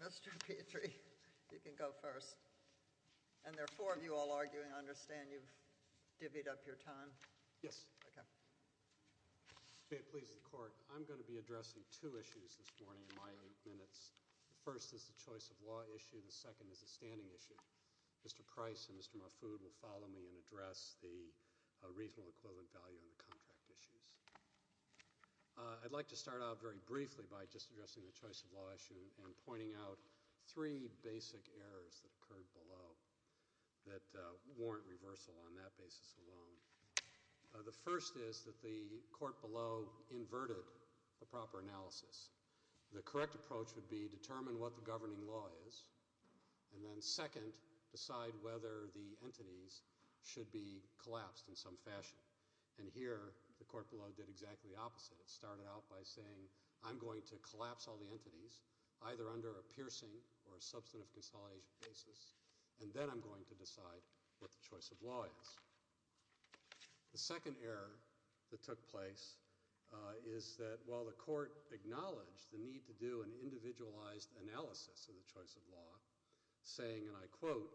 Mr. Petrie, you can go first. And there are four of you all arguing. I understand you've divvied up your time. Yes. Okay. If it pleases the court, I'm going to be addressing two issues this morning in my eight minutes. The first is the choice of law issue. The second is the standing issue. Mr. Price and Mr. Mahfoud will follow me and address the regional equivalent value on the contract issues. I'd like to start out very briefly by just addressing the choice of law issue and pointing out three basic errors that occurred below that warrant reversal on that basis alone. The first is that the court below inverted the proper analysis. The correct approach would be determine what the governing law is. And then second, decide whether the entities should be collapsed in some fashion. And here, the court below did exactly the opposite. It started out by saying, I'm going to collapse all the entities, either under a piercing or a substantive consolidation basis, and then I'm going to decide what the choice of law is. The second error that took place is that while the court acknowledged the need to do an individualized analysis of the choice of law, saying, and I quote,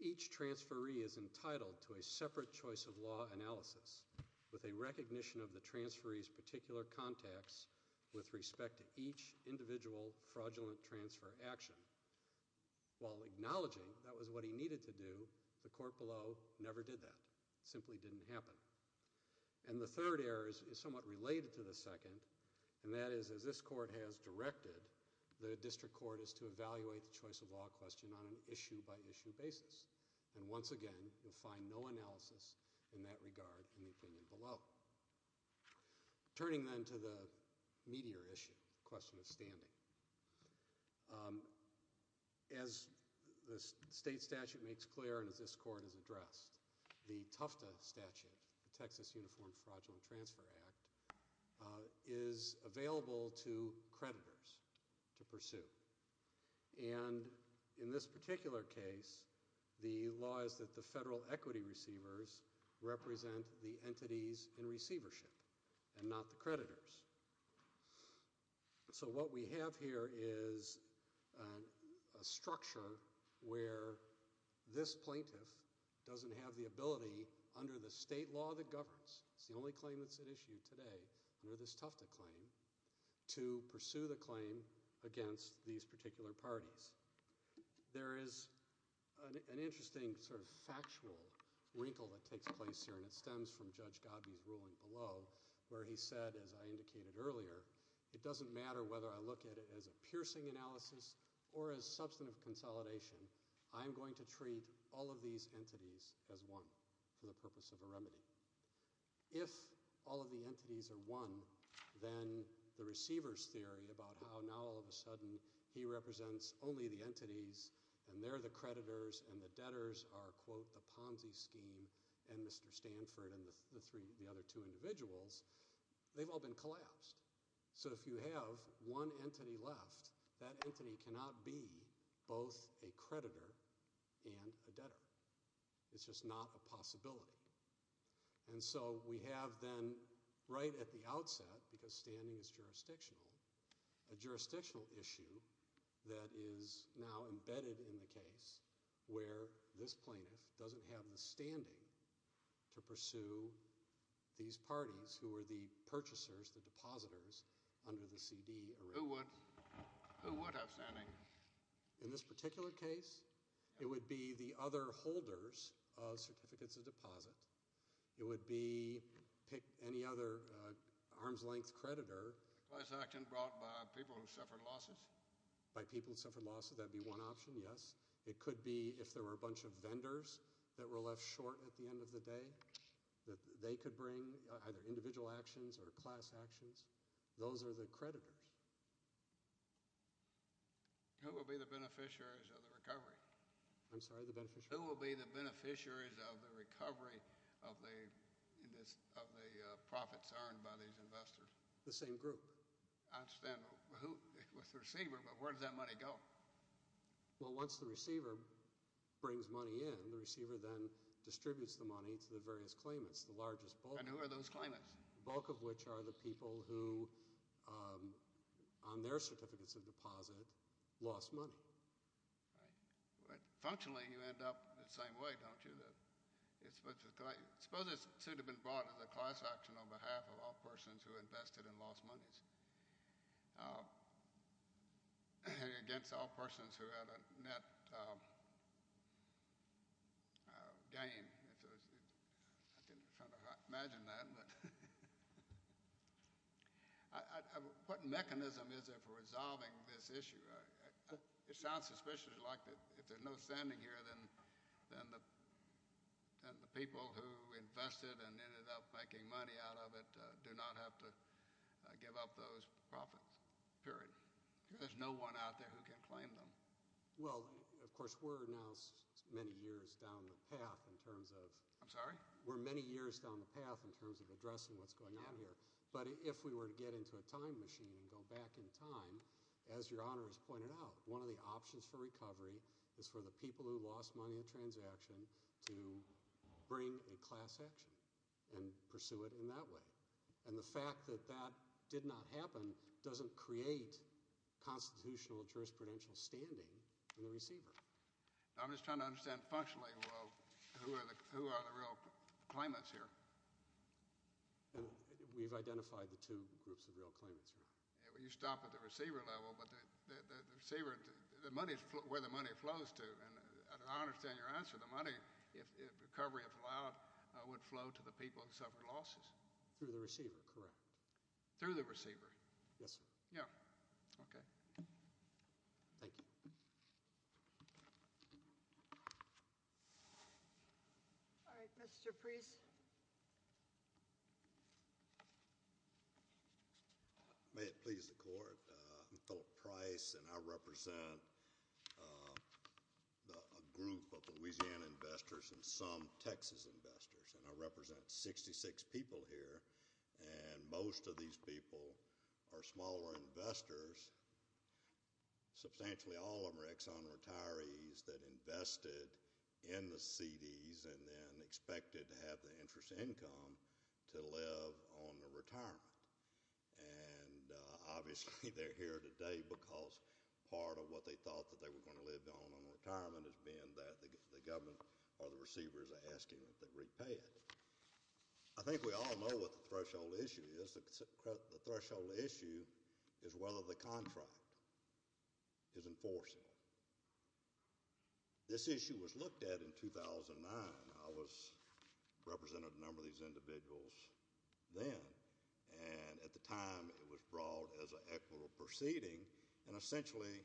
each transferee is entitled to a separate choice of law analysis with a recognition of the transferee's particular contacts with respect to each individual fraudulent transfer action. While acknowledging that was what he needed to do, the court below never did that. It simply didn't happen. And the third error is somewhat related to the second, and that is, as this court has directed, the district court is to evaluate the choice of law question on an issue-by-issue basis. And once again, you'll find no analysis in that regard in the opinion below. Turning then to the meatier issue, the question of standing. As the state statute makes clear and as this court has addressed, the Tufta Statute, the Texas Uniform Fraudulent Transfer Act, is available to creditors to pursue. And in this particular case, the law is that the federal equity receivers represent the entities in receivership and not the creditors. So what we have here is a structure where this plaintiff doesn't have the ability, under the state law that governs, it's the only claim that's at issue today under this Tufta claim, to pursue the claim against these particular parties. There is an interesting sort of factual wrinkle that takes place here, and it stems from Judge Gabbi's ruling below, where he said, as I indicated earlier, it doesn't matter whether I look at it as a piercing analysis or as substantive consolidation, I'm going to treat all of these entities as one for the purpose of a remedy. If all of the entities are one, then the receiver's theory about how now all of a sudden he represents only the entities and they're the creditors and the debtors are, quote, the Ponzi scheme and Mr. Stanford and the other two individuals, they've all been collapsed. So if you have one entity left, that entity cannot be both a creditor and a debtor. It's just not a possibility. And so we have then right at the outset, because standing is jurisdictional, a jurisdictional issue that is now embedded in the case where this plaintiff doesn't have the standing to pursue these parties who are the purchasers, the depositors under the CD arrangement. Who would have standing? In this particular case, it would be the other holders of certificates of deposit. It would be any other arm's length creditor. Class action brought by people who suffered losses? By people who suffered losses, that would be one option, yes. It could be if there were a bunch of vendors that were left short at the end of the day, that they could bring either individual actions or class actions. Those are the creditors. Who would be the beneficiaries of the recovery? I'm sorry, the beneficiaries? Who would be the beneficiaries of the recovery of the profits earned by these investors? The same group. I understand. With the receiver, but where does that money go? Well, once the receiver brings money in, the receiver then distributes the money to the various claimants, the largest bulk. And who are those claimants? The bulk of which are the people who, on their certificates of deposit, lost money. Functionally, you end up the same way, don't you? Suppose it should have been brought as a class action on behalf of all persons who invested and lost monies, against all persons who had a net gain. I'm trying to imagine that. What mechanism is there for resolving this issue? It sounds suspiciously like if there's no standing here, then the people who invested and ended up making money out of it do not have to give up those profits, period. There's no one out there who can claim them. Well, of course, we're now many years down the path in terms of addressing what's going on here. But if we were to get into a time machine and go back in time, as Your Honor has pointed out, one of the options for recovery is for the people who lost money in a transaction to bring a class action and pursue it in that way. And the fact that that did not happen doesn't create constitutional jurisprudential standing in the receiver. I'm just trying to understand functionally who are the real claimants here. We've identified the two groups of real claimants, Your Honor. You stop at the receiver level, but the money is where the money flows to. And I understand your answer. The money, if recovery is allowed, would flow to the people who suffered losses. Through the receiver, correct. Through the receiver? Yes, sir. Yeah. Okay. Thank you. All right. Mr. Priest. May it please the court. I'm Philip Price, and I represent a group of Louisiana investors and some Texas investors. And I represent 66 people here, and most of these people are smaller investors. Substantially all of them are Exxon retirees that invested in the CDs and then expected to have the interest income to live on the retirement. And obviously they're here today because part of what they thought that they were going to live on in retirement is being that the government or the receivers are asking that they repay it. I think we all know what the threshold issue is. The threshold issue is whether the contract is enforceable. This issue was looked at in 2009. I represented a number of these individuals then, and at the time it was brought as an equitable proceeding. And essentially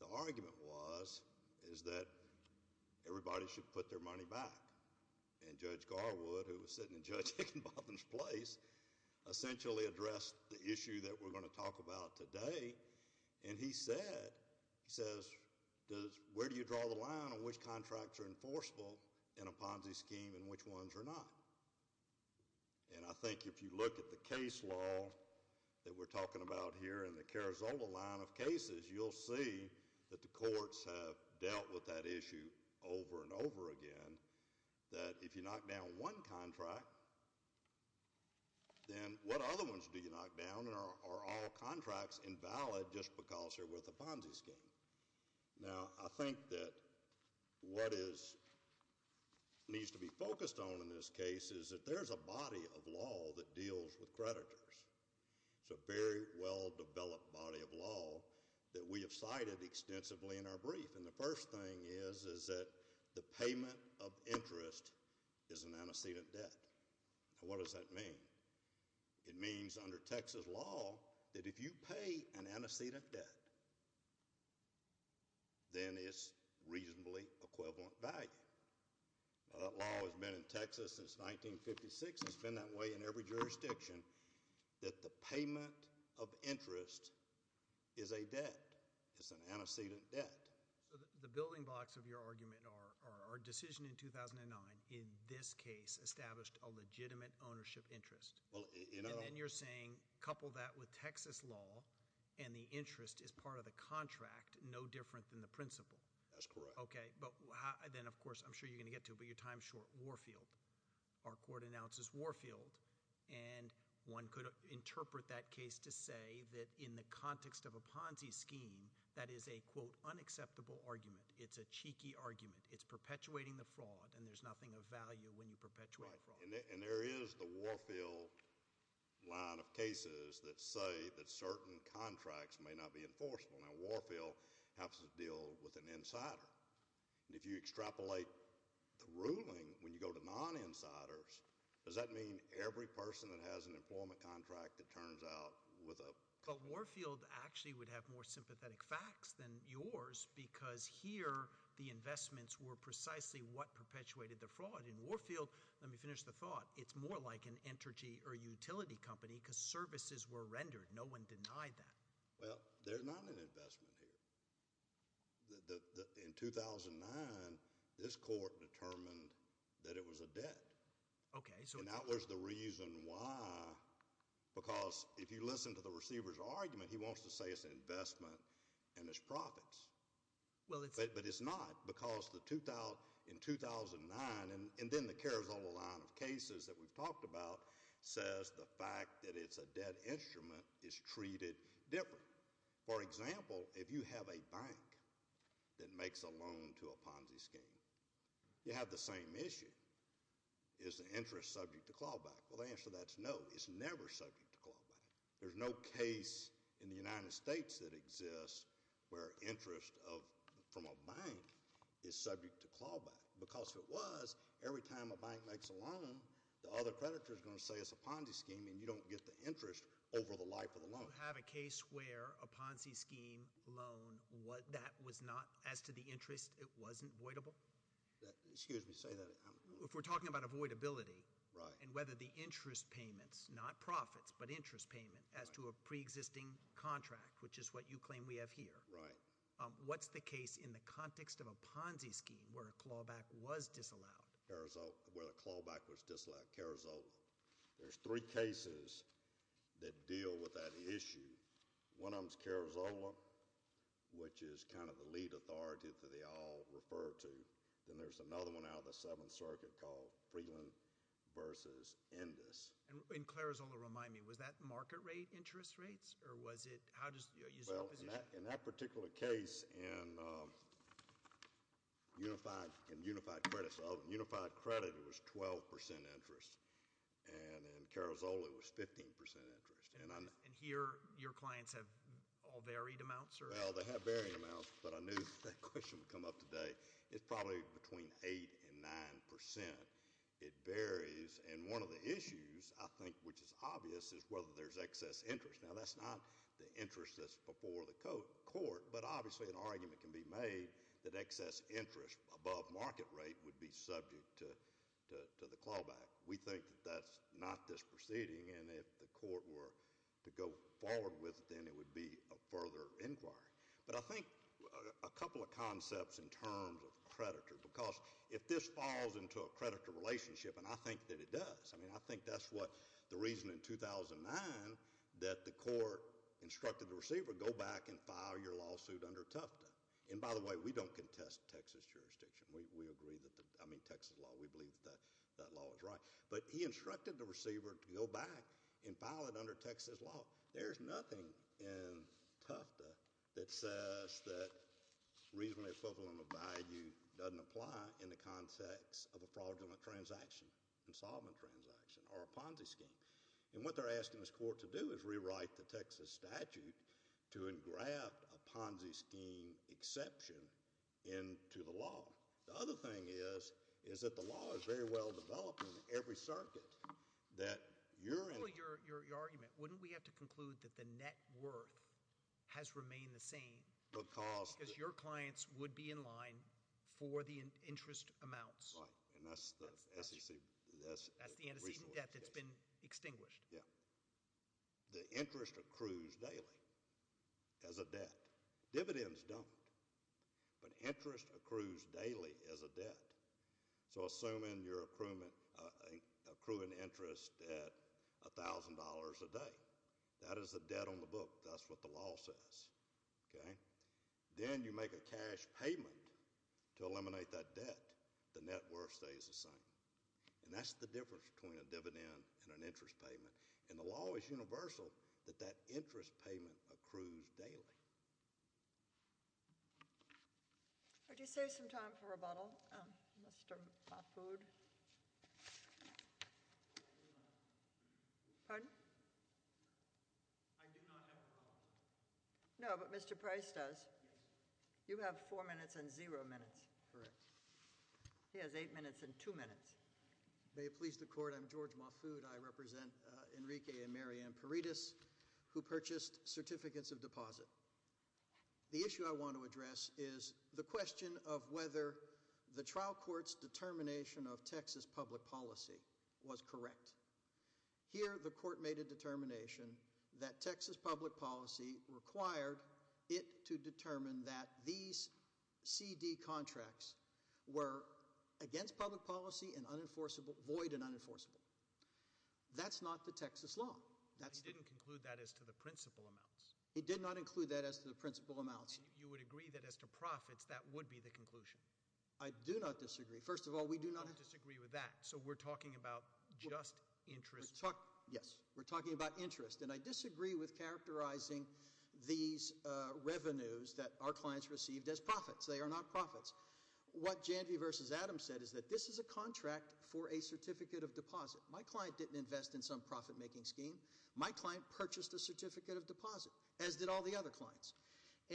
the argument was is that everybody should put their money back. And Judge Garwood, who was sitting in Judge Hickenbotham's place, essentially addressed the issue that we're going to talk about today. And he said, he says, where do you draw the line on which contracts are enforceable in a Ponzi scheme and which ones are not? And I think if you look at the case law that we're talking about here in the Carrizola line of cases, you'll see that the courts have dealt with that issue over and over again, that if you knock down one contract, then what other ones do you knock down? And are all contracts invalid just because they're with a Ponzi scheme? Now, I think that what needs to be focused on in this case is that there's a body of law that deals with creditors. It's a very well-developed body of law that we have cited extensively in our brief. And the first thing is is that the payment of interest is an antecedent debt. Now, what does that mean? It means under Texas law that if you pay an antecedent debt, then it's reasonably equivalent value. Now, that law has been in Texas since 1956. It's been that way in every jurisdiction, that the payment of interest is a debt. It's an antecedent debt. So the building blocks of your argument are our decision in 2009 in this case established a legitimate ownership interest. And then you're saying couple that with Texas law and the interest is part of the contract, no different than the principle. That's correct. Okay. But then, of course, I'm sure you're going to get to it, but your time is short. Warfield. Our court announces Warfield. And one could interpret that case to say that in the context of a Ponzi scheme, that is a, quote, unacceptable argument. It's a cheeky argument. It's perpetuating the fraud, and there's nothing of value when you perpetuate a fraud. And there is the Warfield line of cases that say that certain contracts may not be enforceable. Now, Warfield happens to deal with an insider. And if you extrapolate the ruling when you go to non-insiders, does that mean every person that has an employment contract that turns out with a— But Warfield actually would have more sympathetic facts than yours because here the investments were precisely what perpetuated the fraud. In Warfield, let me finish the thought, it's more like an energy or utility company because services were rendered. No one denied that. Well, there's not an investment here. In 2009, this court determined that it was a debt. And that was the reason why, because if you listen to the receiver's argument, he wants to say it's an investment and it's profits. But it's not because in 2009—and then the Carrizola line of cases that we've talked about says the fact that it's a debt instrument is treated differently. For example, if you have a bank that makes a loan to a Ponzi scheme, you have the same issue. Is the interest subject to clawback? Well, the answer to that is no. It's never subject to clawback. There's no case in the United States that exists where interest from a bank is subject to clawback. Because if it was, every time a bank makes a loan, the other creditor is going to say it's a Ponzi scheme and you don't get the interest over the life of the loan. Do you have a case where a Ponzi scheme loan, that was not—as to the interest, it wasn't voidable? Excuse me, say that again. If we're talking about avoidability and whether the interest payments, not profits, but interest payment as to a preexisting contract, which is what you claim we have here. Right. What's the case in the context of a Ponzi scheme where a clawback was disallowed? Where a clawback was disallowed, Carrizola. There's three cases that deal with that issue. One of them is Carrizola, which is kind of the lead authority that they all refer to. Then there's another one out of the Seventh Circuit called Freeland versus Indus. And Carrizola, remind me, was that market rate interest rates? Or was it—how does— Well, in that particular case, in unified credit, it was 12% interest. And in Carrizola, it was 15% interest. And here your clients have all varied amounts? Well, they have varied amounts, but I knew that question would come up today. It's probably between 8% and 9%. It varies, and one of the issues I think which is obvious is whether there's excess interest. Now, that's not the interest that's before the court, but obviously an argument can be made that excess interest above market rate would be subject to the clawback. We think that that's not this proceeding, and if the court were to go forward with it, then it would be a further inquiry. But I think a couple of concepts in terms of creditor, because if this falls into a creditor relationship, and I think that it does. I mean, I think that's what—the reason in 2009 that the court instructed the receiver, go back and file your lawsuit under Tufta. And by the way, we don't contest Texas jurisdiction. We agree that the—I mean, Texas law. We believe that that law is right. But he instructed the receiver to go back and file it under Texas law. There's nothing in Tufta that says that reasonably equivalent value doesn't apply in the context of a fraudulent transaction, insolvent transaction, or a Ponzi scheme. And what they're asking this court to do is rewrite the Texas statute to engraft a Ponzi scheme exception into the law. The other thing is, is that the law is very well developed in every circuit that you're in— Well, your argument, wouldn't we have to conclude that the net worth has remained the same? Because— Because your clients would be in line for the interest amounts. Right, and that's the antecedent debt that's been extinguished. Yeah. The interest accrues daily as a debt. Dividends don't. But interest accrues daily as a debt. So assuming you're accruing interest at $1,000 a day, that is the debt on the book. That's what the law says. Then you make a cash payment to eliminate that debt. The net worth stays the same. And that's the difference between a dividend and an interest payment. And the law is universal that that interest payment accrues daily. Could you save some time for rebuttal, Mr. Mahfoud? Pardon? I do not have a problem. No, but Mr. Price does. You have four minutes and zero minutes. Correct. He has eight minutes and two minutes. May it please the court. I'm George Mahfoud. I represent Enrique and Mary Ann Paredes, who purchased certificates of deposit. The issue I want to address is the question of whether the trial court's determination of Texas public policy was correct. Here, the court made a determination that Texas public policy required it to determine that these CD contracts were against public policy and void and unenforceable. That's not the Texas law. He didn't conclude that as to the principal amounts. He did not include that as to the principal amounts. And you would agree that as to profits, that would be the conclusion. I do not disagree. First of all, we do not have— Interest. Yes. We're talking about interest. And I disagree with characterizing these revenues that our clients received as profits. They are not profits. What Janvey v. Adams said is that this is a contract for a certificate of deposit. My client didn't invest in some profit-making scheme. My client purchased a certificate of deposit, as did all the other clients.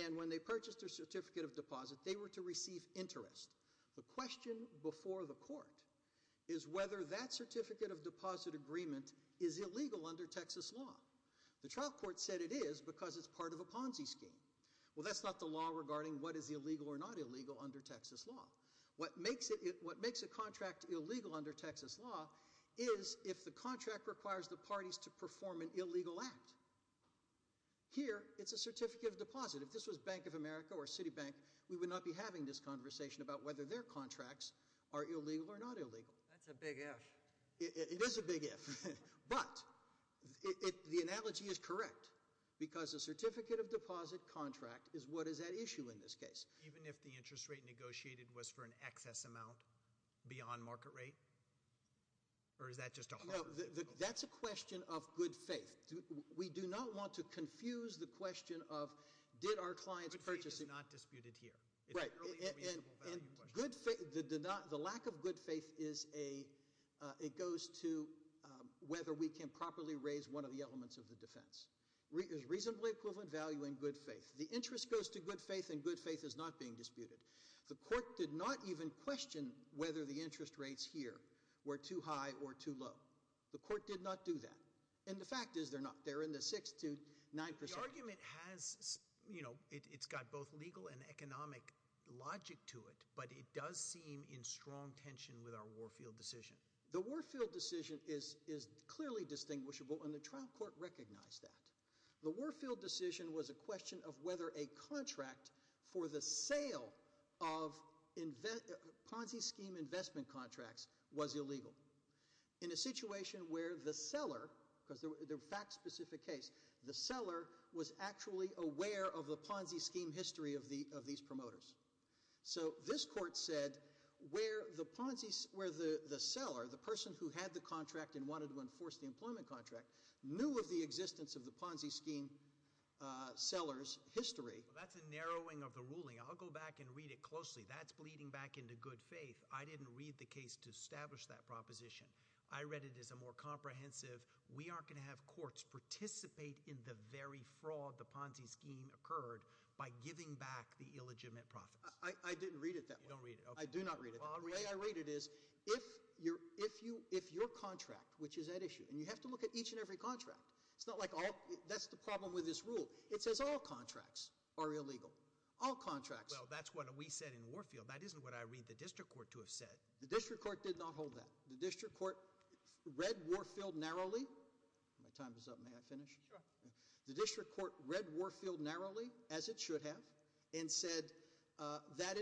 And when they purchased their certificate of deposit, they were to receive interest. The question before the court is whether that certificate of deposit agreement is illegal under Texas law. The trial court said it is because it's part of a Ponzi scheme. Well, that's not the law regarding what is illegal or not illegal under Texas law. What makes a contract illegal under Texas law is if the contract requires the parties to perform an illegal act. Here, it's a certificate of deposit. If this was Bank of America or Citibank, we would not be having this conversation about whether their contracts are illegal or not illegal. That's a big if. It is a big if. But the analogy is correct because a certificate of deposit contract is what is at issue in this case. Even if the interest rate negotiated was for an excess amount beyond market rate? Or is that just a hard— No, that's a question of good faith. We do not want to confuse the question of did our clients purchase— Good faith is not disputed here. It's an early reasonable value question. The lack of good faith goes to whether we can properly raise one of the elements of the defense. There's reasonably equivalent value in good faith. The interest goes to good faith, and good faith is not being disputed. The court did not even question whether the interest rates here were too high or too low. The court did not do that. And the fact is they're not. They're in the 6 to 9 percent. The argument has—it's got both legal and economic logic to it, but it does seem in strong tension with our Warfield decision. The Warfield decision is clearly distinguishable, and the trial court recognized that. The Warfield decision was a question of whether a contract for the sale of Ponzi scheme investment contracts was illegal. In a situation where the seller—because they're a fact-specific case—the seller was actually aware of the Ponzi scheme history of these promoters. So this court said where the seller, the person who had the contract and wanted to enforce the employment contract, knew of the existence of the Ponzi scheme seller's history— That's a narrowing of the ruling. I'll go back and read it closely. That's bleeding back into good faith. I didn't read the case to establish that proposition. I read it as a more comprehensive we aren't going to have courts participate in the very fraud the Ponzi scheme occurred by giving back the illegitimate profits. I didn't read it that way. You don't read it. I do not read it that way. The way I read it is if your contract, which is at issue—and you have to look at each and every contract. It's not like all—that's the problem with this rule. It says all contracts are illegal. All contracts. Well, that's what we said in Warfield. That isn't what I read the district court to have said. The district court did not hold that. The district court read Warfield narrowly. My time is up. May I finish? Sure. The district court read Warfield narrowly, as it should have, and said that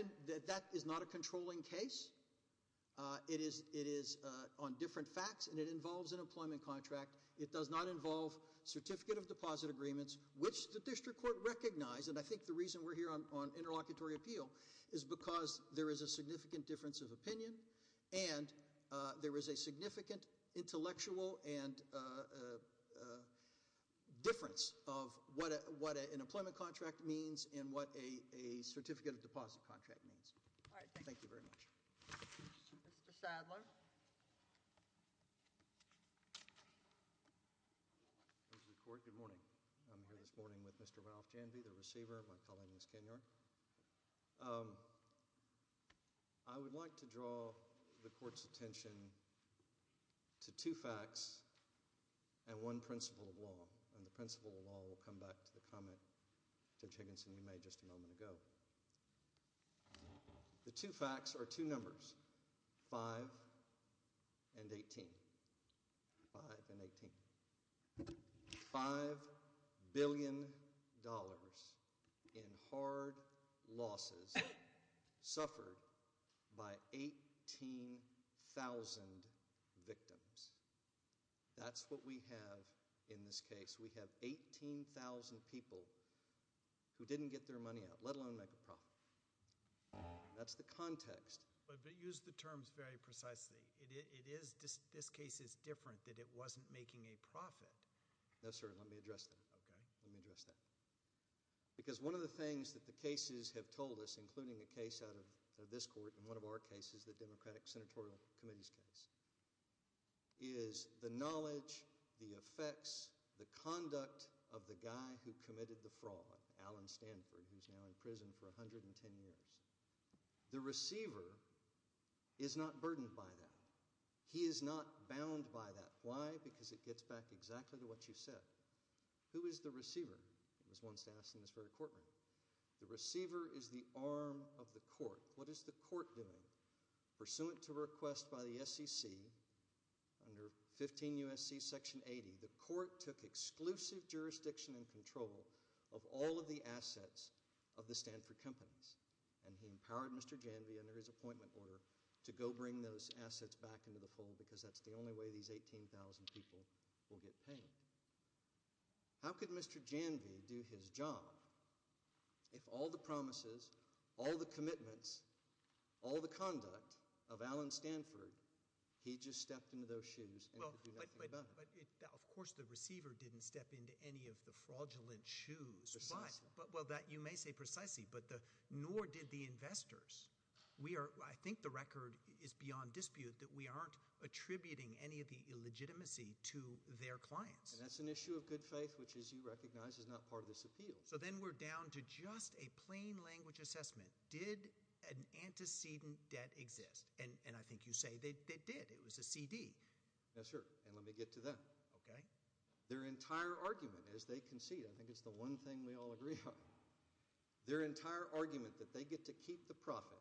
is not a controlling case. It is on different facts, and it involves an employment contract. It does not involve certificate of deposit agreements, which the district court recognized. And I think the reason we're here on interlocutory appeal is because there is a significant difference of opinion, and there is a significant intellectual difference of what an employment contract means and what a certificate of deposit contract means. Thank you very much. Mr. Sadler. Good morning. I'm here this morning with Mr. Ralph Janvey, the receiver, and my colleague, Ms. Kenyard. I would like to draw the court's attention to two facts and one principle of law, and the principle of law will come back to the comment Judge Higginson made just a moment ago. The two facts are two numbers, 5 and 18. 5 and 18. $5 billion in hard losses suffered by 18,000 victims. That's what we have in this case. We have 18,000 people who didn't get their money out, let alone make a profit. That's the context. But use the terms very precisely. This case is different, that it wasn't making a profit. No, sir, let me address that. Okay. Let me address that. Because one of the things that the cases have told us, including a case out of this court and one of our cases, the Democratic Senatorial Committee's case, is the knowledge, the effects, the conduct of the guy who committed the fraud, Alan Stanford, who's now in prison for 110 years. The receiver is not burdened by that. He is not bound by that. Why? Because it gets back exactly to what you said. Who is the receiver? It was once asked in this very courtroom. The receiver is the arm of the court. What is the court doing? Pursuant to request by the SEC under 15 U.S.C. Section 80, the court took exclusive jurisdiction and control of all of the assets of the Stanford companies. And he empowered Mr. Janvey under his appointment order to go bring those assets back into the fold because that's the only way these 18,000 people will get paid. How could Mr. Janvey do his job if all the promises, all the commitments, all the conduct of Alan Stanford, he just stepped into those shoes and could do nothing about it? But, of course, the receiver didn't step into any of the fraudulent shoes. Precisely. Well, you may say precisely, but nor did the investors. I think the record is beyond dispute that we aren't attributing any of the illegitimacy to their clients. And that's an issue of good faith, which, as you recognize, is not part of this appeal. So then we're down to just a plain language assessment. Did an antecedent debt exist? And I think you say they did. It was a CD. Yes, sir. And let me get to that. Okay. Their entire argument is they concede. I think it's the one thing we all agree on. Their entire argument that they get to keep the profit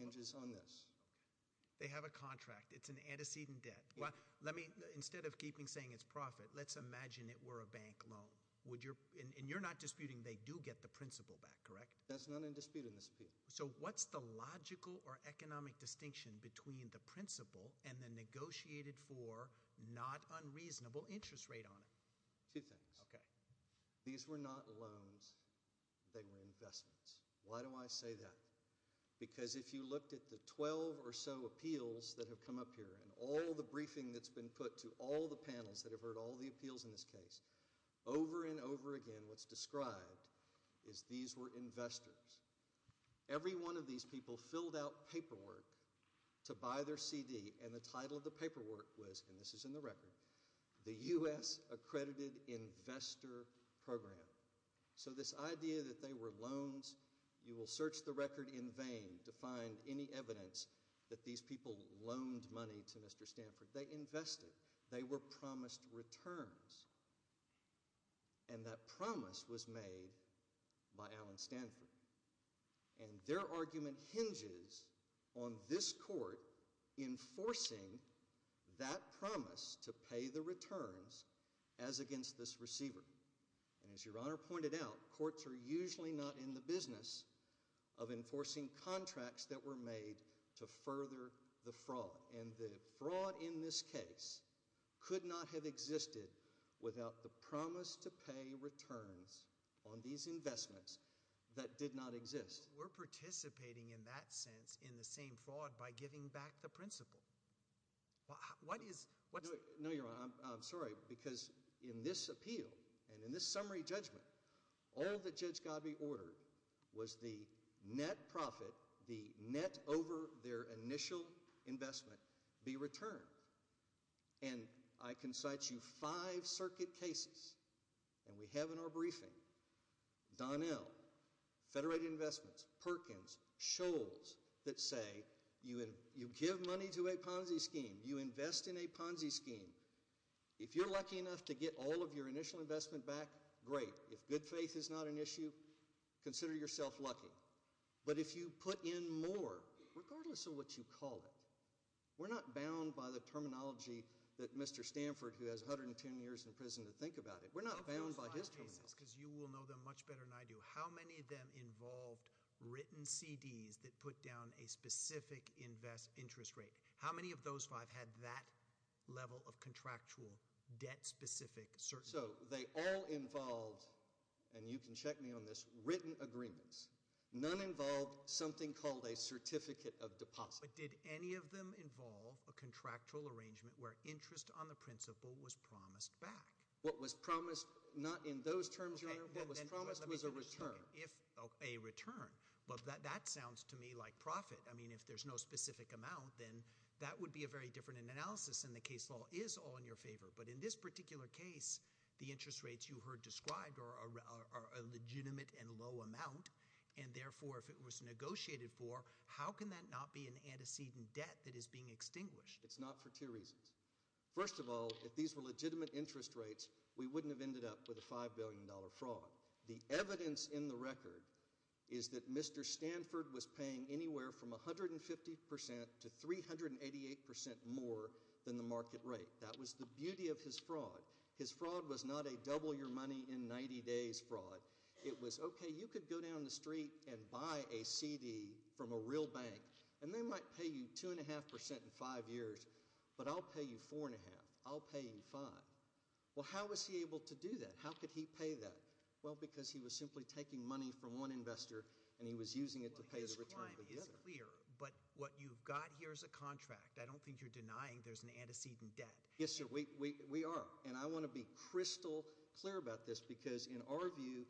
hinges on this. Okay. They have a contract. It's an antecedent debt. Well, let me, instead of keeping saying it's profit, let's imagine it were a bank loan. And you're not disputing they do get the principal back, correct? That's not in dispute in this appeal. So what's the logical or economic distinction between the principal and the negotiated for not unreasonable interest rate on it? Two things. Okay. These were not loans. They were investments. Why do I say that? Because if you looked at the 12 or so appeals that have come up here and all the briefing that's been put to all the panels that have heard all the appeals in this case, over and over again what's described is these were investors. Every one of these people filled out paperwork to buy their CD, and the title of the paperwork was, and this is in the record, the U.S. Accredited Investor Program. So this idea that they were loans, you will search the record in vain to find any evidence that these people loaned money to Mr. Stanford. They invested. They were promised returns, and that promise was made by Alan Stanford. And their argument hinges on this court enforcing that promise to pay the returns as against this receiver. And as Your Honor pointed out, courts are usually not in the business of enforcing contracts that were made to further the fraud. And the fraud in this case could not have existed without the promise to pay returns on these investments that did not exist. But we're participating in that sense in the same fraud by giving back the principal. What is – No, Your Honor. I'm sorry, because in this appeal and in this summary judgment, all that Judge Godbee ordered was the net profit, the net over their initial investment, be returned. And I can cite you five circuit cases, and we have in our briefing Donnell, Federated Investments, Perkins, that say you give money to a Ponzi scheme. You invest in a Ponzi scheme. If you're lucky enough to get all of your initial investment back, great. If good faith is not an issue, consider yourself lucky. But if you put in more, regardless of what you call it, we're not bound by the terminology that Mr. Stanford, who has 110 years in prison, to think about it. We're not bound by his terminology. Because you will know them much better than I do. How many of them involved written CDs that put down a specific interest rate? How many of those five had that level of contractual debt-specific certainty? So they all involved – and you can check me on this – written agreements. None involved something called a certificate of deposit. But did any of them involve a contractual arrangement where interest on the principal was promised back? What was promised – not in those terms, Your Honor. What was promised was a return. A return. Well, that sounds to me like profit. I mean, if there's no specific amount, then that would be a very different analysis, and the case law is all in your favor. But in this particular case, the interest rates you heard described are a legitimate and low amount. And therefore, if it was negotiated for, how can that not be an antecedent debt that is being extinguished? It's not for two reasons. First of all, if these were legitimate interest rates, we wouldn't have ended up with a $5 billion fraud. The evidence in the record is that Mr. Stanford was paying anywhere from 150 percent to 388 percent more than the market rate. That was the beauty of his fraud. His fraud was not a double-your-money-in-90-days fraud. It was, okay, you could go down the street and buy a CD from a real bank, and they might pay you 2.5 percent in five years, but I'll pay you 4.5. I'll pay you 5. Well, how was he able to do that? How could he pay that? Well, because he was simply taking money from one investor, and he was using it to pay the return. Well, his crime is clear, but what you've got here is a contract. I don't think you're denying there's an antecedent debt. Yes, sir. We are. And I want to be crystal clear about this because, in our view,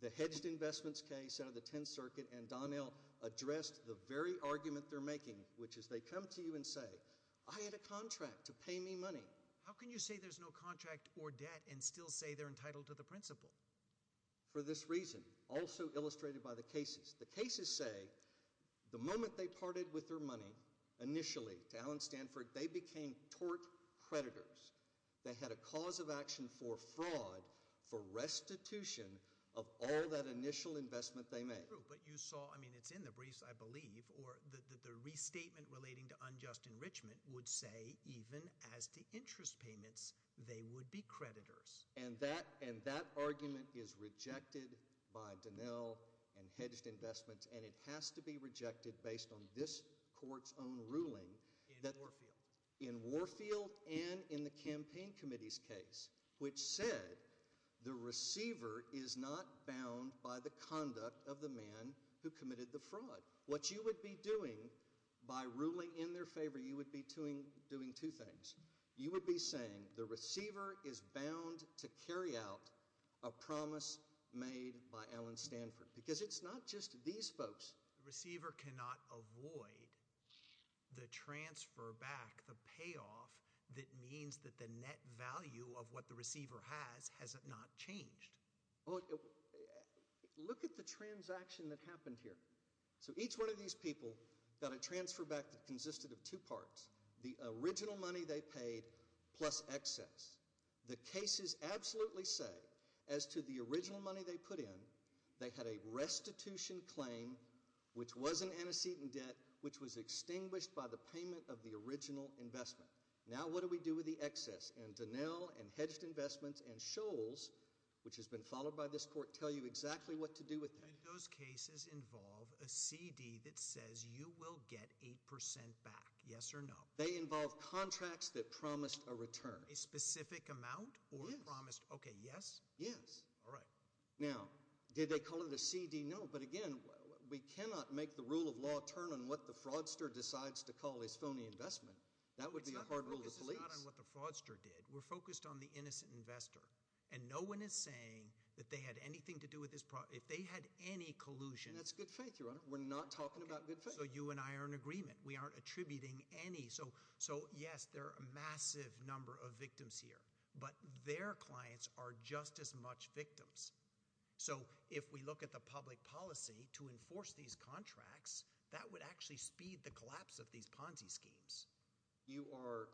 the Hedged Investments case out of the Tenth Circuit and Donnell addressed the very argument they're making, which is they come to you and say, I had a contract to pay me money. How can you say there's no contract or debt and still say they're entitled to the principal? For this reason, also illustrated by the cases. The cases say the moment they parted with their money initially to Alan Stanford, they became tort creditors. They had a cause of action for fraud for restitution of all that initial investment they made. But you saw, I mean, it's in the briefs, I believe, or the restatement relating to unjust enrichment would say, even as to interest payments, they would be creditors. And that argument is rejected by Donnell and Hedged Investments, and it has to be rejected based on this court's own ruling. In Warfield. In Warfield and in the campaign committee's case, which said the receiver is not bound by the conduct of the man who committed the fraud. What you would be doing by ruling in their favor, you would be doing two things. You would be saying the receiver is bound to carry out a promise made by Alan Stanford. Because it's not just these folks. The receiver cannot avoid the transfer back, the payoff that means that the net value of what the receiver has has not changed. Look at the transaction that happened here. So each one of these people got a transfer back that consisted of two parts. The original money they paid plus excess. The cases absolutely say, as to the original money they put in, they had a restitution claim, which wasn't antecedent debt, which was extinguished by the payment of the original investment. Now what do we do with the excess? And Donnell and Hedged Investments and Shoals, which has been followed by this court, tell you exactly what to do with it. And those cases involve a CD that says you will get 8% back, yes or no? They involve contracts that promised a return. A specific amount? Yes. Okay, yes? Yes. All right. Now did they call it a CD? No. But again, we cannot make the rule of law turn on what the fraudster decides to call his phony investment. That would be a hard rule to police. This is not on what the fraudster did. We're focused on the innocent investor. And no one is saying that they had anything to do with this. If they had any collusion. That's good faith, Your Honor. We're not talking about good faith. So you and I are in agreement. We aren't attributing any. So yes, there are a massive number of victims here. But their clients are just as much victims. So if we look at the public policy to enforce these contracts, that would actually speed the collapse of these Ponzi schemes. You are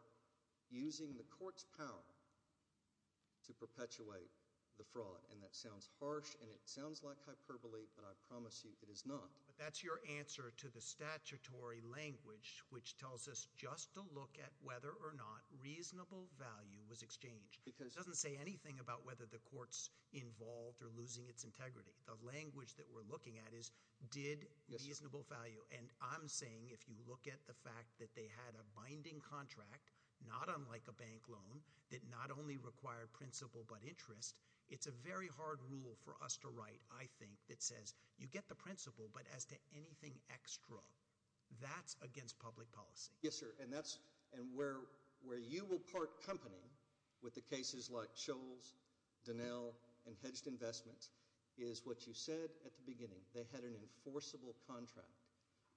using the court's power to perpetuate the fraud. And that sounds harsh and it sounds like hyperbole, but I promise you it is not. But that's your answer to the statutory language which tells us just to look at whether or not reasonable value was exchanged. It doesn't say anything about whether the court's involved or losing its integrity. The language that we're looking at is did reasonable value. And I'm saying if you look at the fact that they had a binding contract, not unlike a bank loan, that not only required principle but interest, it's a very hard rule for us to write, I think, that says you get the principle but as to anything extra. That's against public policy. Yes, sir. And that's where you will part company with the cases like Scholes, Donnell, and Hedged Investments is what you said at the beginning. They had an enforceable contract.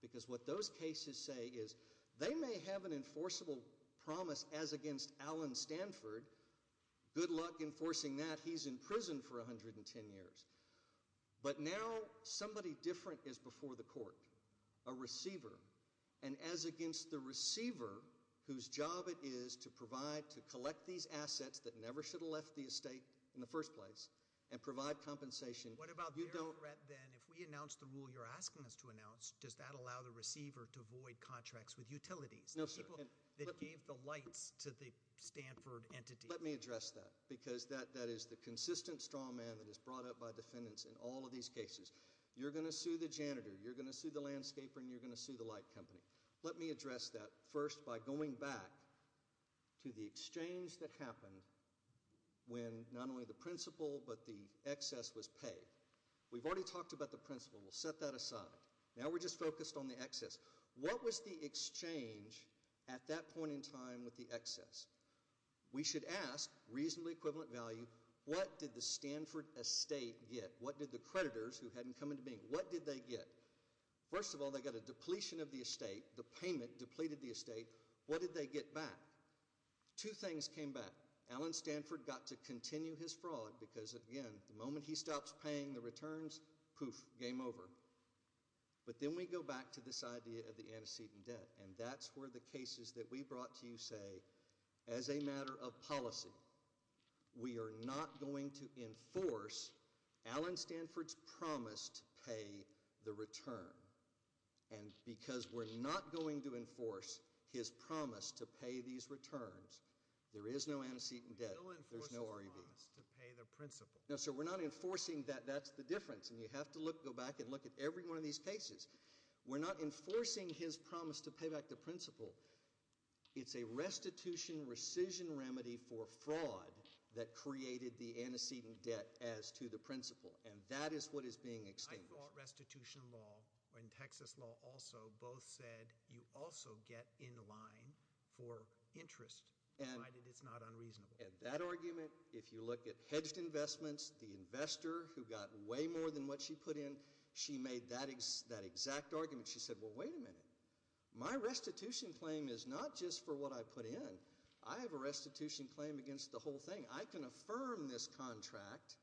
Because what those cases say is they may have an enforceable promise as against Allen Stanford. Good luck enforcing that. He's in prison for 110 years. But now somebody different is before the court, a receiver. And as against the receiver whose job it is to provide, to collect these assets that never should have left the estate in the first place and provide compensation. What about their threat then? If we announce the rule you're asking us to announce, does that allow the receiver to void contracts with utilities? No, sir. That gave the lights to the Stanford entity. Let me address that because that is the consistent straw man that is brought up by defendants in all of these cases. You're going to sue the janitor, you're going to sue the landscaper, and you're going to sue the light company. Let me address that first by going back to the exchange that happened when not only the principle but the excess was paid. We've already talked about the principle. We'll set that aside. Now we're just focused on the excess. What was the exchange at that point in time with the excess? We should ask reasonably equivalent value, what did the Stanford estate get? What did the creditors who hadn't come into being, what did they get? First of all, they got a depletion of the estate. The payment depleted the estate. What did they get back? Two things came back. Alan Stanford got to continue his fraud because, again, the moment he stops paying the returns, poof, game over. But then we go back to this idea of the antecedent debt, and that's where the cases that we brought to you say, as a matter of policy, we are not going to enforce Alan Stanford's promise to pay the return. And because we're not going to enforce his promise to pay these returns, there is no antecedent debt. There's no REV. No, sir, we're not enforcing that. That's the difference. And you have to go back and look at every one of these cases. We're not enforcing his promise to pay back the principal. It's a restitution rescission remedy for fraud that created the antecedent debt as to the principal, and that is what is being established. I thought restitution law and Texas law also both said you also get in line for interest provided it's not unreasonable. And that argument, if you look at hedged investments, the investor who got way more than what she put in, she made that exact argument. She said, well, wait a minute. My restitution claim is not just for what I put in. I have a restitution claim against the whole thing. I can affirm this contract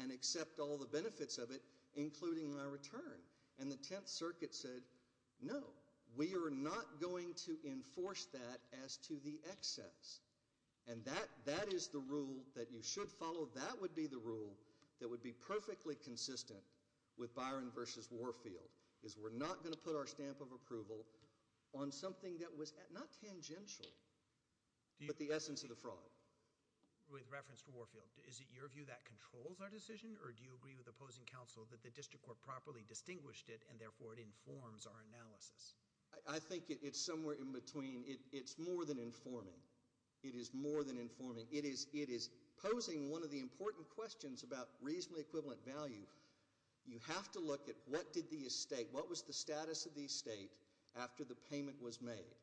and accept all the benefits of it, including my return. And the Tenth Circuit said, no, we are not going to enforce that as to the excess. And that is the rule that you should follow. That would be the rule that would be perfectly consistent with Byron versus Warfield, is we're not going to put our stamp of approval on something that was not tangential, but the essence of the fraud. With reference to Warfield, is it your view that controls our decision, or do you agree with opposing counsel that the district court properly distinguished it, and therefore it informs our analysis? I think it's somewhere in between. It's more than informing. It is more than informing. It is posing one of the important questions about reasonably equivalent value. You have to look at what did the estate, what was the status of the estate after the payment was made.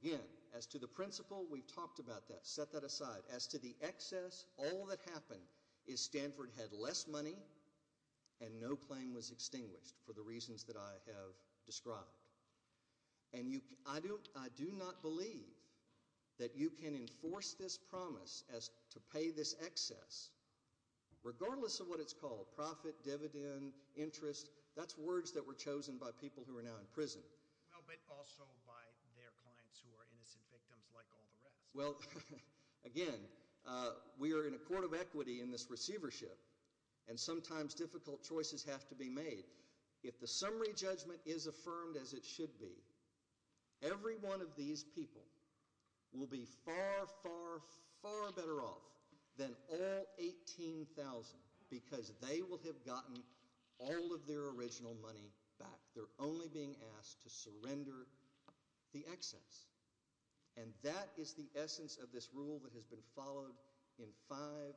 Again, as to the principle, we've talked about that. Set that aside. As to the excess, all that happened is Stanford had less money, and no claim was extinguished for the reasons that I have described. And I do not believe that you can enforce this promise as to pay this excess, regardless of what it's called, profit, dividend, interest. That's words that were chosen by people who are now in prison. But also by their clients who are innocent victims like all the rest. Well, again, we are in a court of equity in this receivership, and sometimes difficult choices have to be made. If the summary judgment is affirmed as it should be, every one of these people will be far, far, far better off than all 18,000 because they will have gotten all of their original money back. They're only being asked to surrender the excess. And that is the essence of this rule that has been followed in five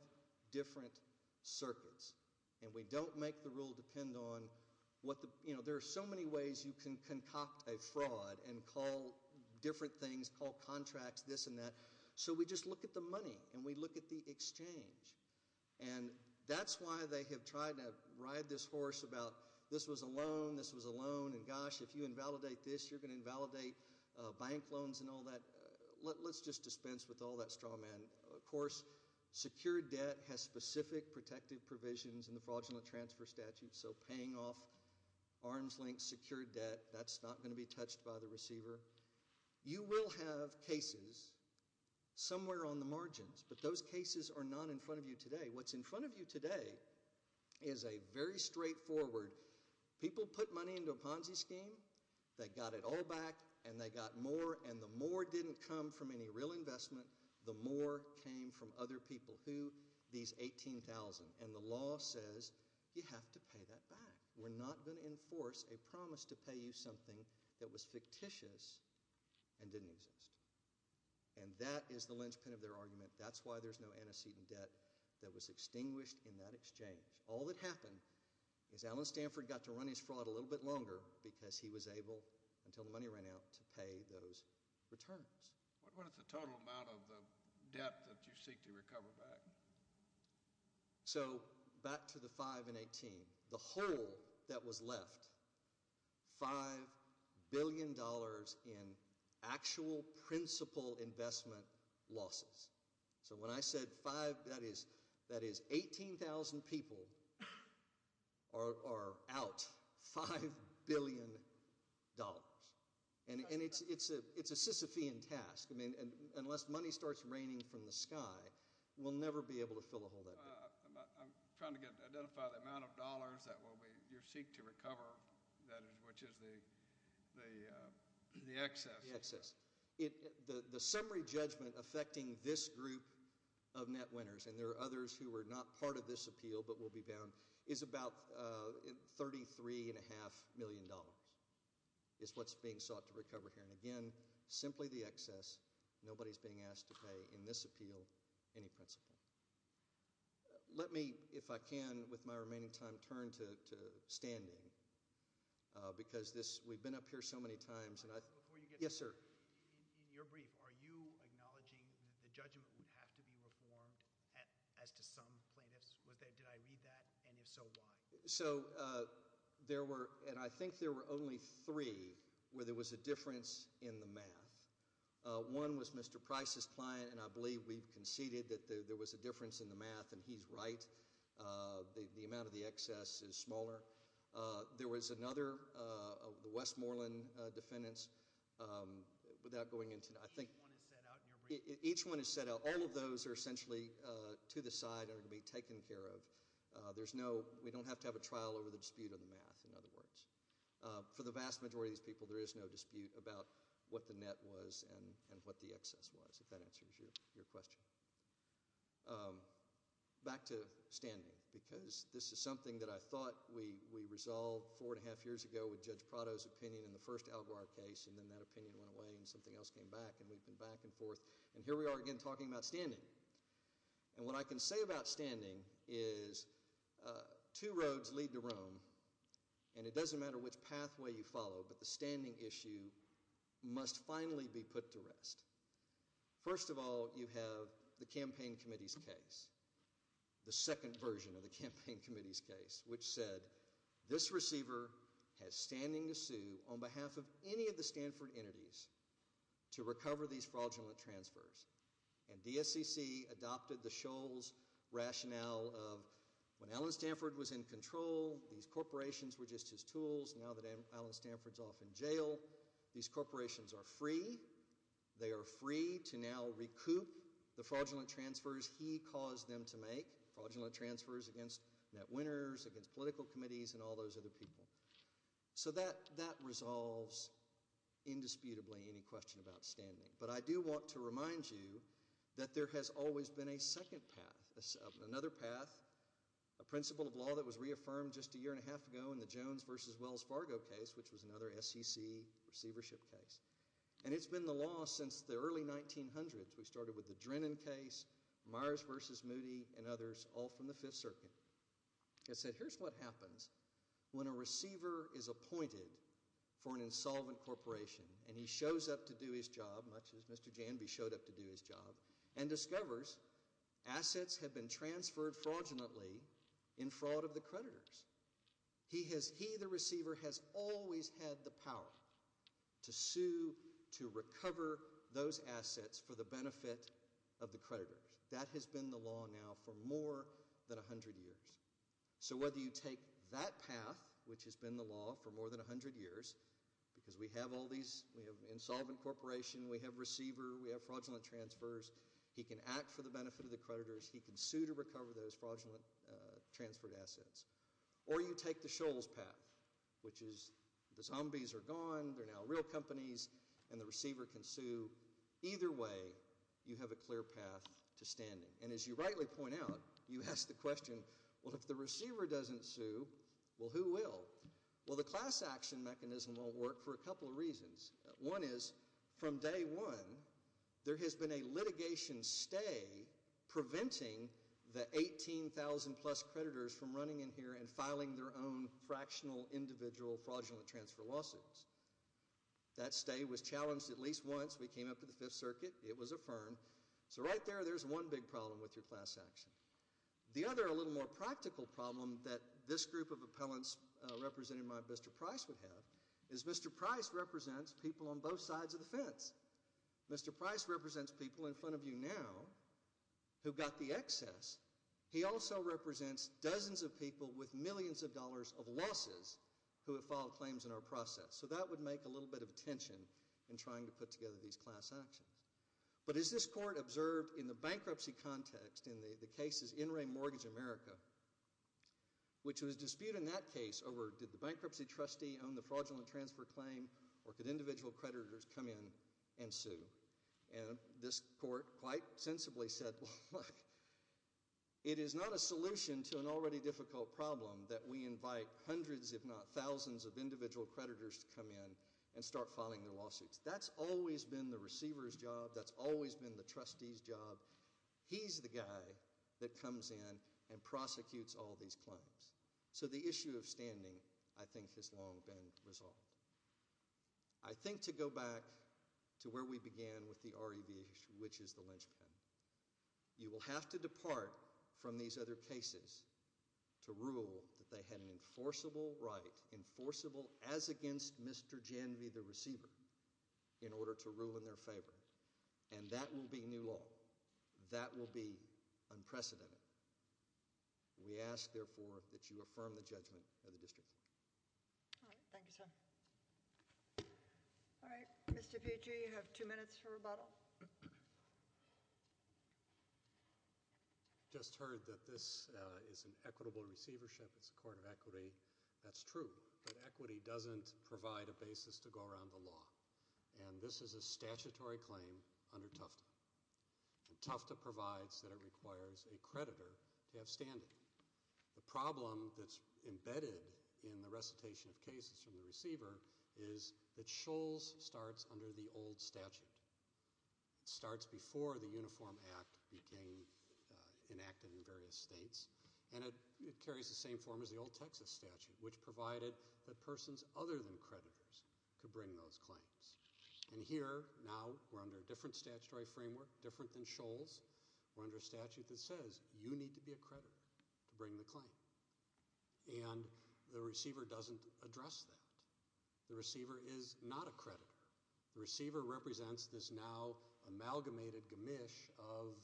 different circuits. And we don't make the rule depend on what the, you know, there are so many ways you can concoct a fraud and call different things, call contracts, this and that. So we just look at the money, and we look at the exchange. And that's why they have tried to ride this horse about this was a loan, this was a loan, and gosh, if you invalidate this, you're going to invalidate bank loans and all that. Let's just dispense with all that straw man. Of course, secured debt has specific protective provisions in the fraudulent transfer statute, so paying off arm's length secured debt, that's not going to be touched by the receiver. You will have cases somewhere on the margins, but those cases are not in front of you today. What's in front of you today is a very straightforward, people put money into a Ponzi scheme, they got it all back, and they got more, and the more didn't come from any real investment, the more came from other people. Who? These 18,000. And the law says you have to pay that back. We're not going to enforce a promise to pay you something that was fictitious and didn't exist. And that is the linchpin of their argument. That's why there's no antecedent debt that was extinguished in that exchange. All that happened is Alan Stanford got to run his fraud a little bit longer because he was able, until the money ran out, to pay those returns. What is the total amount of the debt that you seek to recover back? So back to the 5 and 18. The whole that was left, $5 billion in actual principal investment losses. So when I said 5, that is 18,000 people are out $5 billion. And it's a Sisyphean task. Unless money starts raining from the sky, we'll never be able to fill a whole lot. I'm trying to identify the amount of dollars that you seek to recover, which is the excess. The excess. The summary judgment affecting this group of net winners, and there are others who were not part of this appeal but will be bound, is about $33.5 million is what's being sought to recover here. And, again, simply the excess. Nobody is being asked to pay in this appeal any principal. Let me, if I can, with my remaining time, turn to standing because we've been up here so many times. Yes, sir. In your brief, are you acknowledging that the judgment would have to be reformed as to some plaintiffs? Did I read that? And if so, why? So there were, and I think there were only three where there was a difference in the math. One was Mr. Price's client, and I believe we've conceded that there was a difference in the math, and he's right. The amount of the excess is smaller. There was another, the Westmoreland defendants, without going into, I think. Each one is set out in your brief. Each one is set out. All of those are essentially to the side and are going to be taken care of. There's no, we don't have to have a trial over the dispute on the math, in other words. For the vast majority of these people, there is no dispute about what the net was and what the excess was, if that answers your question. Back to standing, because this is something that I thought we resolved four and a half years ago with Judge Prado's opinion in the first Al Gore case, and then that opinion went away and something else came back, and we've been back and forth. And here we are again talking about standing. And what I can say about standing is two roads lead to Rome, and it doesn't matter which pathway you follow, but the standing issue must finally be put to rest. First of all, you have the campaign committee's case, the second version of the campaign committee's case, which said this receiver has standing to sue on behalf of any of the Stanford entities to recover these fraudulent transfers. And DSCC adopted the Shoals rationale of when Alan Stanford was in control, these corporations were just his tools. Now that Alan Stanford's off in jail, these corporations are free. They are free to now recoup the fraudulent transfers he caused them to make, fraudulent transfers against net winners, against political committees, and all those other people. So that resolves indisputably any question about standing. But I do want to remind you that there has always been a second path, another path, a principle of law that was reaffirmed just a year and a half ago in the Jones v. Wells Fargo case, which was another SEC receivership case. And it's been the law since the early 1900s. We started with the Drennan case, Myers v. Moody, and others, all from the Fifth Circuit. It said here's what happens when a receiver is appointed for an insolvent corporation, and he shows up to do his job, much as Mr. Janby showed up to do his job, and discovers assets have been transferred fraudulently in fraud of the creditors. He, the receiver, has always had the power to sue to recover those assets for the benefit of the creditors. That has been the law now for more than 100 years. So whether you take that path, which has been the law for more than 100 years, because we have insolvent corporation, we have receiver, we have fraudulent transfers, he can act for the benefit of the creditors, he can sue to recover those fraudulent transferred assets. Or you take the Shoals path, which is the zombies are gone, they're now real companies, and the receiver can sue. Either way, you have a clear path to standing. And as you rightly point out, you ask the question, well, if the receiver doesn't sue, well, who will? Well, the class action mechanism won't work for a couple of reasons. One is, from day one, there has been a litigation stay preventing the 18,000-plus creditors from running in here and filing their own fractional, individual, fraudulent transfer lawsuits. That stay was challenged at least once. We came up with the Fifth Circuit. It was affirmed. So right there, there's one big problem with your class action. The other, a little more practical problem that this group of appellants represented by Mr. Price would have, is Mr. Price represents people on both sides of the fence. Mr. Price represents people in front of you now who got the excess. He also represents dozens of people with millions of dollars of losses who have filed claims in our process. So that would make a little bit of a tension in trying to put together these class actions. But as this court observed in the bankruptcy context, in the cases in Ray Mortgage America, which was disputed in that case over did the bankruptcy trustee own the fraudulent transfer claim or could individual creditors come in and sue, and this court quite sensibly said, well, look, it is not a solution to an already difficult problem that we invite hundreds, if not thousands, of individual creditors to come in and start filing their lawsuits. That's always been the receiver's job. That's always been the trustee's job. He's the guy that comes in and prosecutes all these claims. So the issue of standing, I think, has long been resolved. I think to go back to where we began with the REV, which is the linchpin, you will have to depart from these other cases to rule that they had an enforceable right, enforceable as against Mr. Janvey, the receiver, in order to rule in their favor. And that will be new law. That will be unprecedented. We ask, therefore, that you affirm the judgment of the district. All right. Thank you, sir. All right. Mr. Pucci, you have two minutes for rebuttal. I just heard that this is an equitable receivership. It's a court of equity. That's true. But equity doesn't provide a basis to go around the law. And this is a statutory claim under Tufta. And Tufta provides that it requires a creditor to have standing. The problem that's embedded in the recitation of cases from the receiver is that Shoals starts under the old statute. It starts before the Uniform Act became enacted in various states. And it carries the same form as the old Texas statute, which provided that persons other than creditors could bring those claims. And here, now, we're under a different statutory framework, different than Shoals. We're under a statute that says you need to be a creditor to bring the claim. And the receiver doesn't address that. The receiver is not a creditor. The receiver represents this now amalgamated gamish of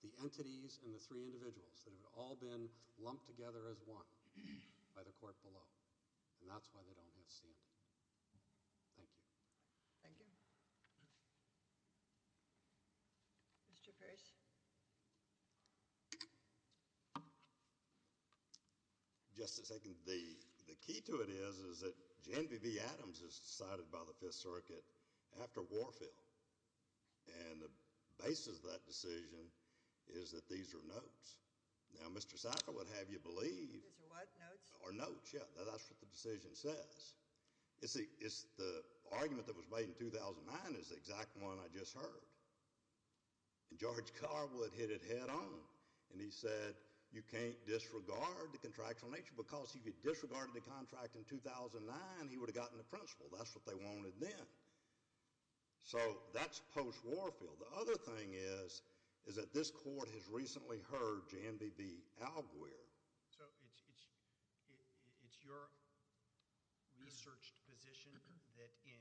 the entities and the three individuals that have all been lumped together as one by the court below. And that's why they don't have standing. Thank you. Thank you. Mr. Pierce. Just a second. The key to it is that Jan V. Adams is decided by the Fifth Circuit after Warfield. And the basis of that decision is that these are notes. Now, Mr. Sackett would have you believe— These are what? Notes? Or notes, yeah. That's what the decision says. The argument that was made in 2009 is the exact one I just heard. And George Carwood hit it head on. And he said you can't disregard the contractual nature because if you disregarded the contract in 2009, he would have gotten the principle. That's what they wanted then. So that's post-Warfield. The other thing is is that this court has recently heard Jan V. V. Alguer. So it's your researched position that in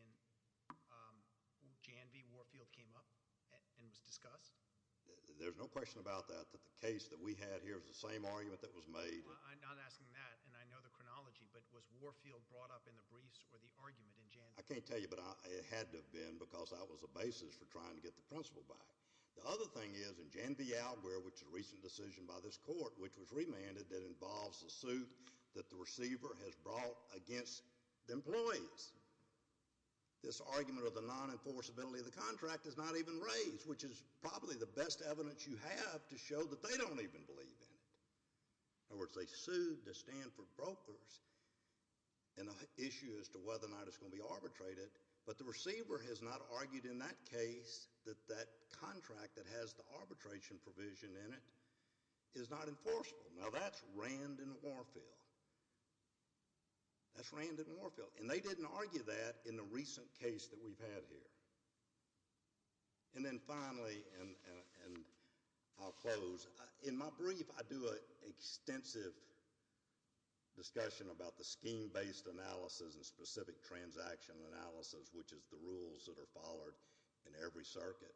Jan V. Warfield came up and was discussed? There's no question about that, that the case that we had here is the same argument that was made. I'm not asking that, and I know the chronology, but was Warfield brought up in the briefs or the argument in Jan V. I can't tell you, but it had to have been because that was the basis for trying to get the principle back. The other thing is in Jan V. Alguer, which is a recent decision by this court, which was remanded, that involves the suit that the receiver has brought against the employees. This argument of the non-enforceability of the contract is not even raised, which is probably the best evidence you have to show that they don't even believe in it. In other words, they sued to stand for brokers in an issue as to whether or not it's going to be arbitrated. But the receiver has not argued in that case that that contract that has the arbitration provision in it is not enforceable. Now that's Rand and Warfield. That's Rand and Warfield, and they didn't argue that in the recent case that we've had here. And then finally, and I'll close, in my brief I do an extensive discussion about the scheme-based analysis and specific transaction analysis, which is the rules that are followed in every circuit.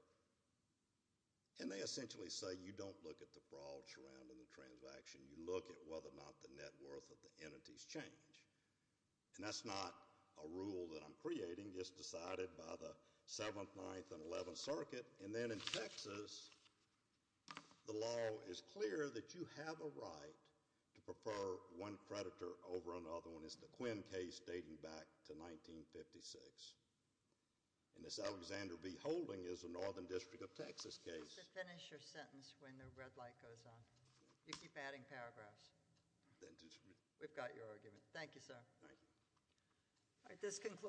And they essentially say you don't look at the fraud surrounding the transaction. You look at whether or not the net worth of the entities change. And that's not a rule that I'm creating, just decided by the 7th, 9th, and 11th Circuit. And then in Texas, the law is clear that you have a right to prefer one creditor over another one. And that's the Quinn case dating back to 1956. And this Alexander B. Holding is a Northern District of Texas case. Finish your sentence when the red light goes on. You keep adding paragraphs. We've got your argument. Thank you, sir. Thank you. All right, this concludes-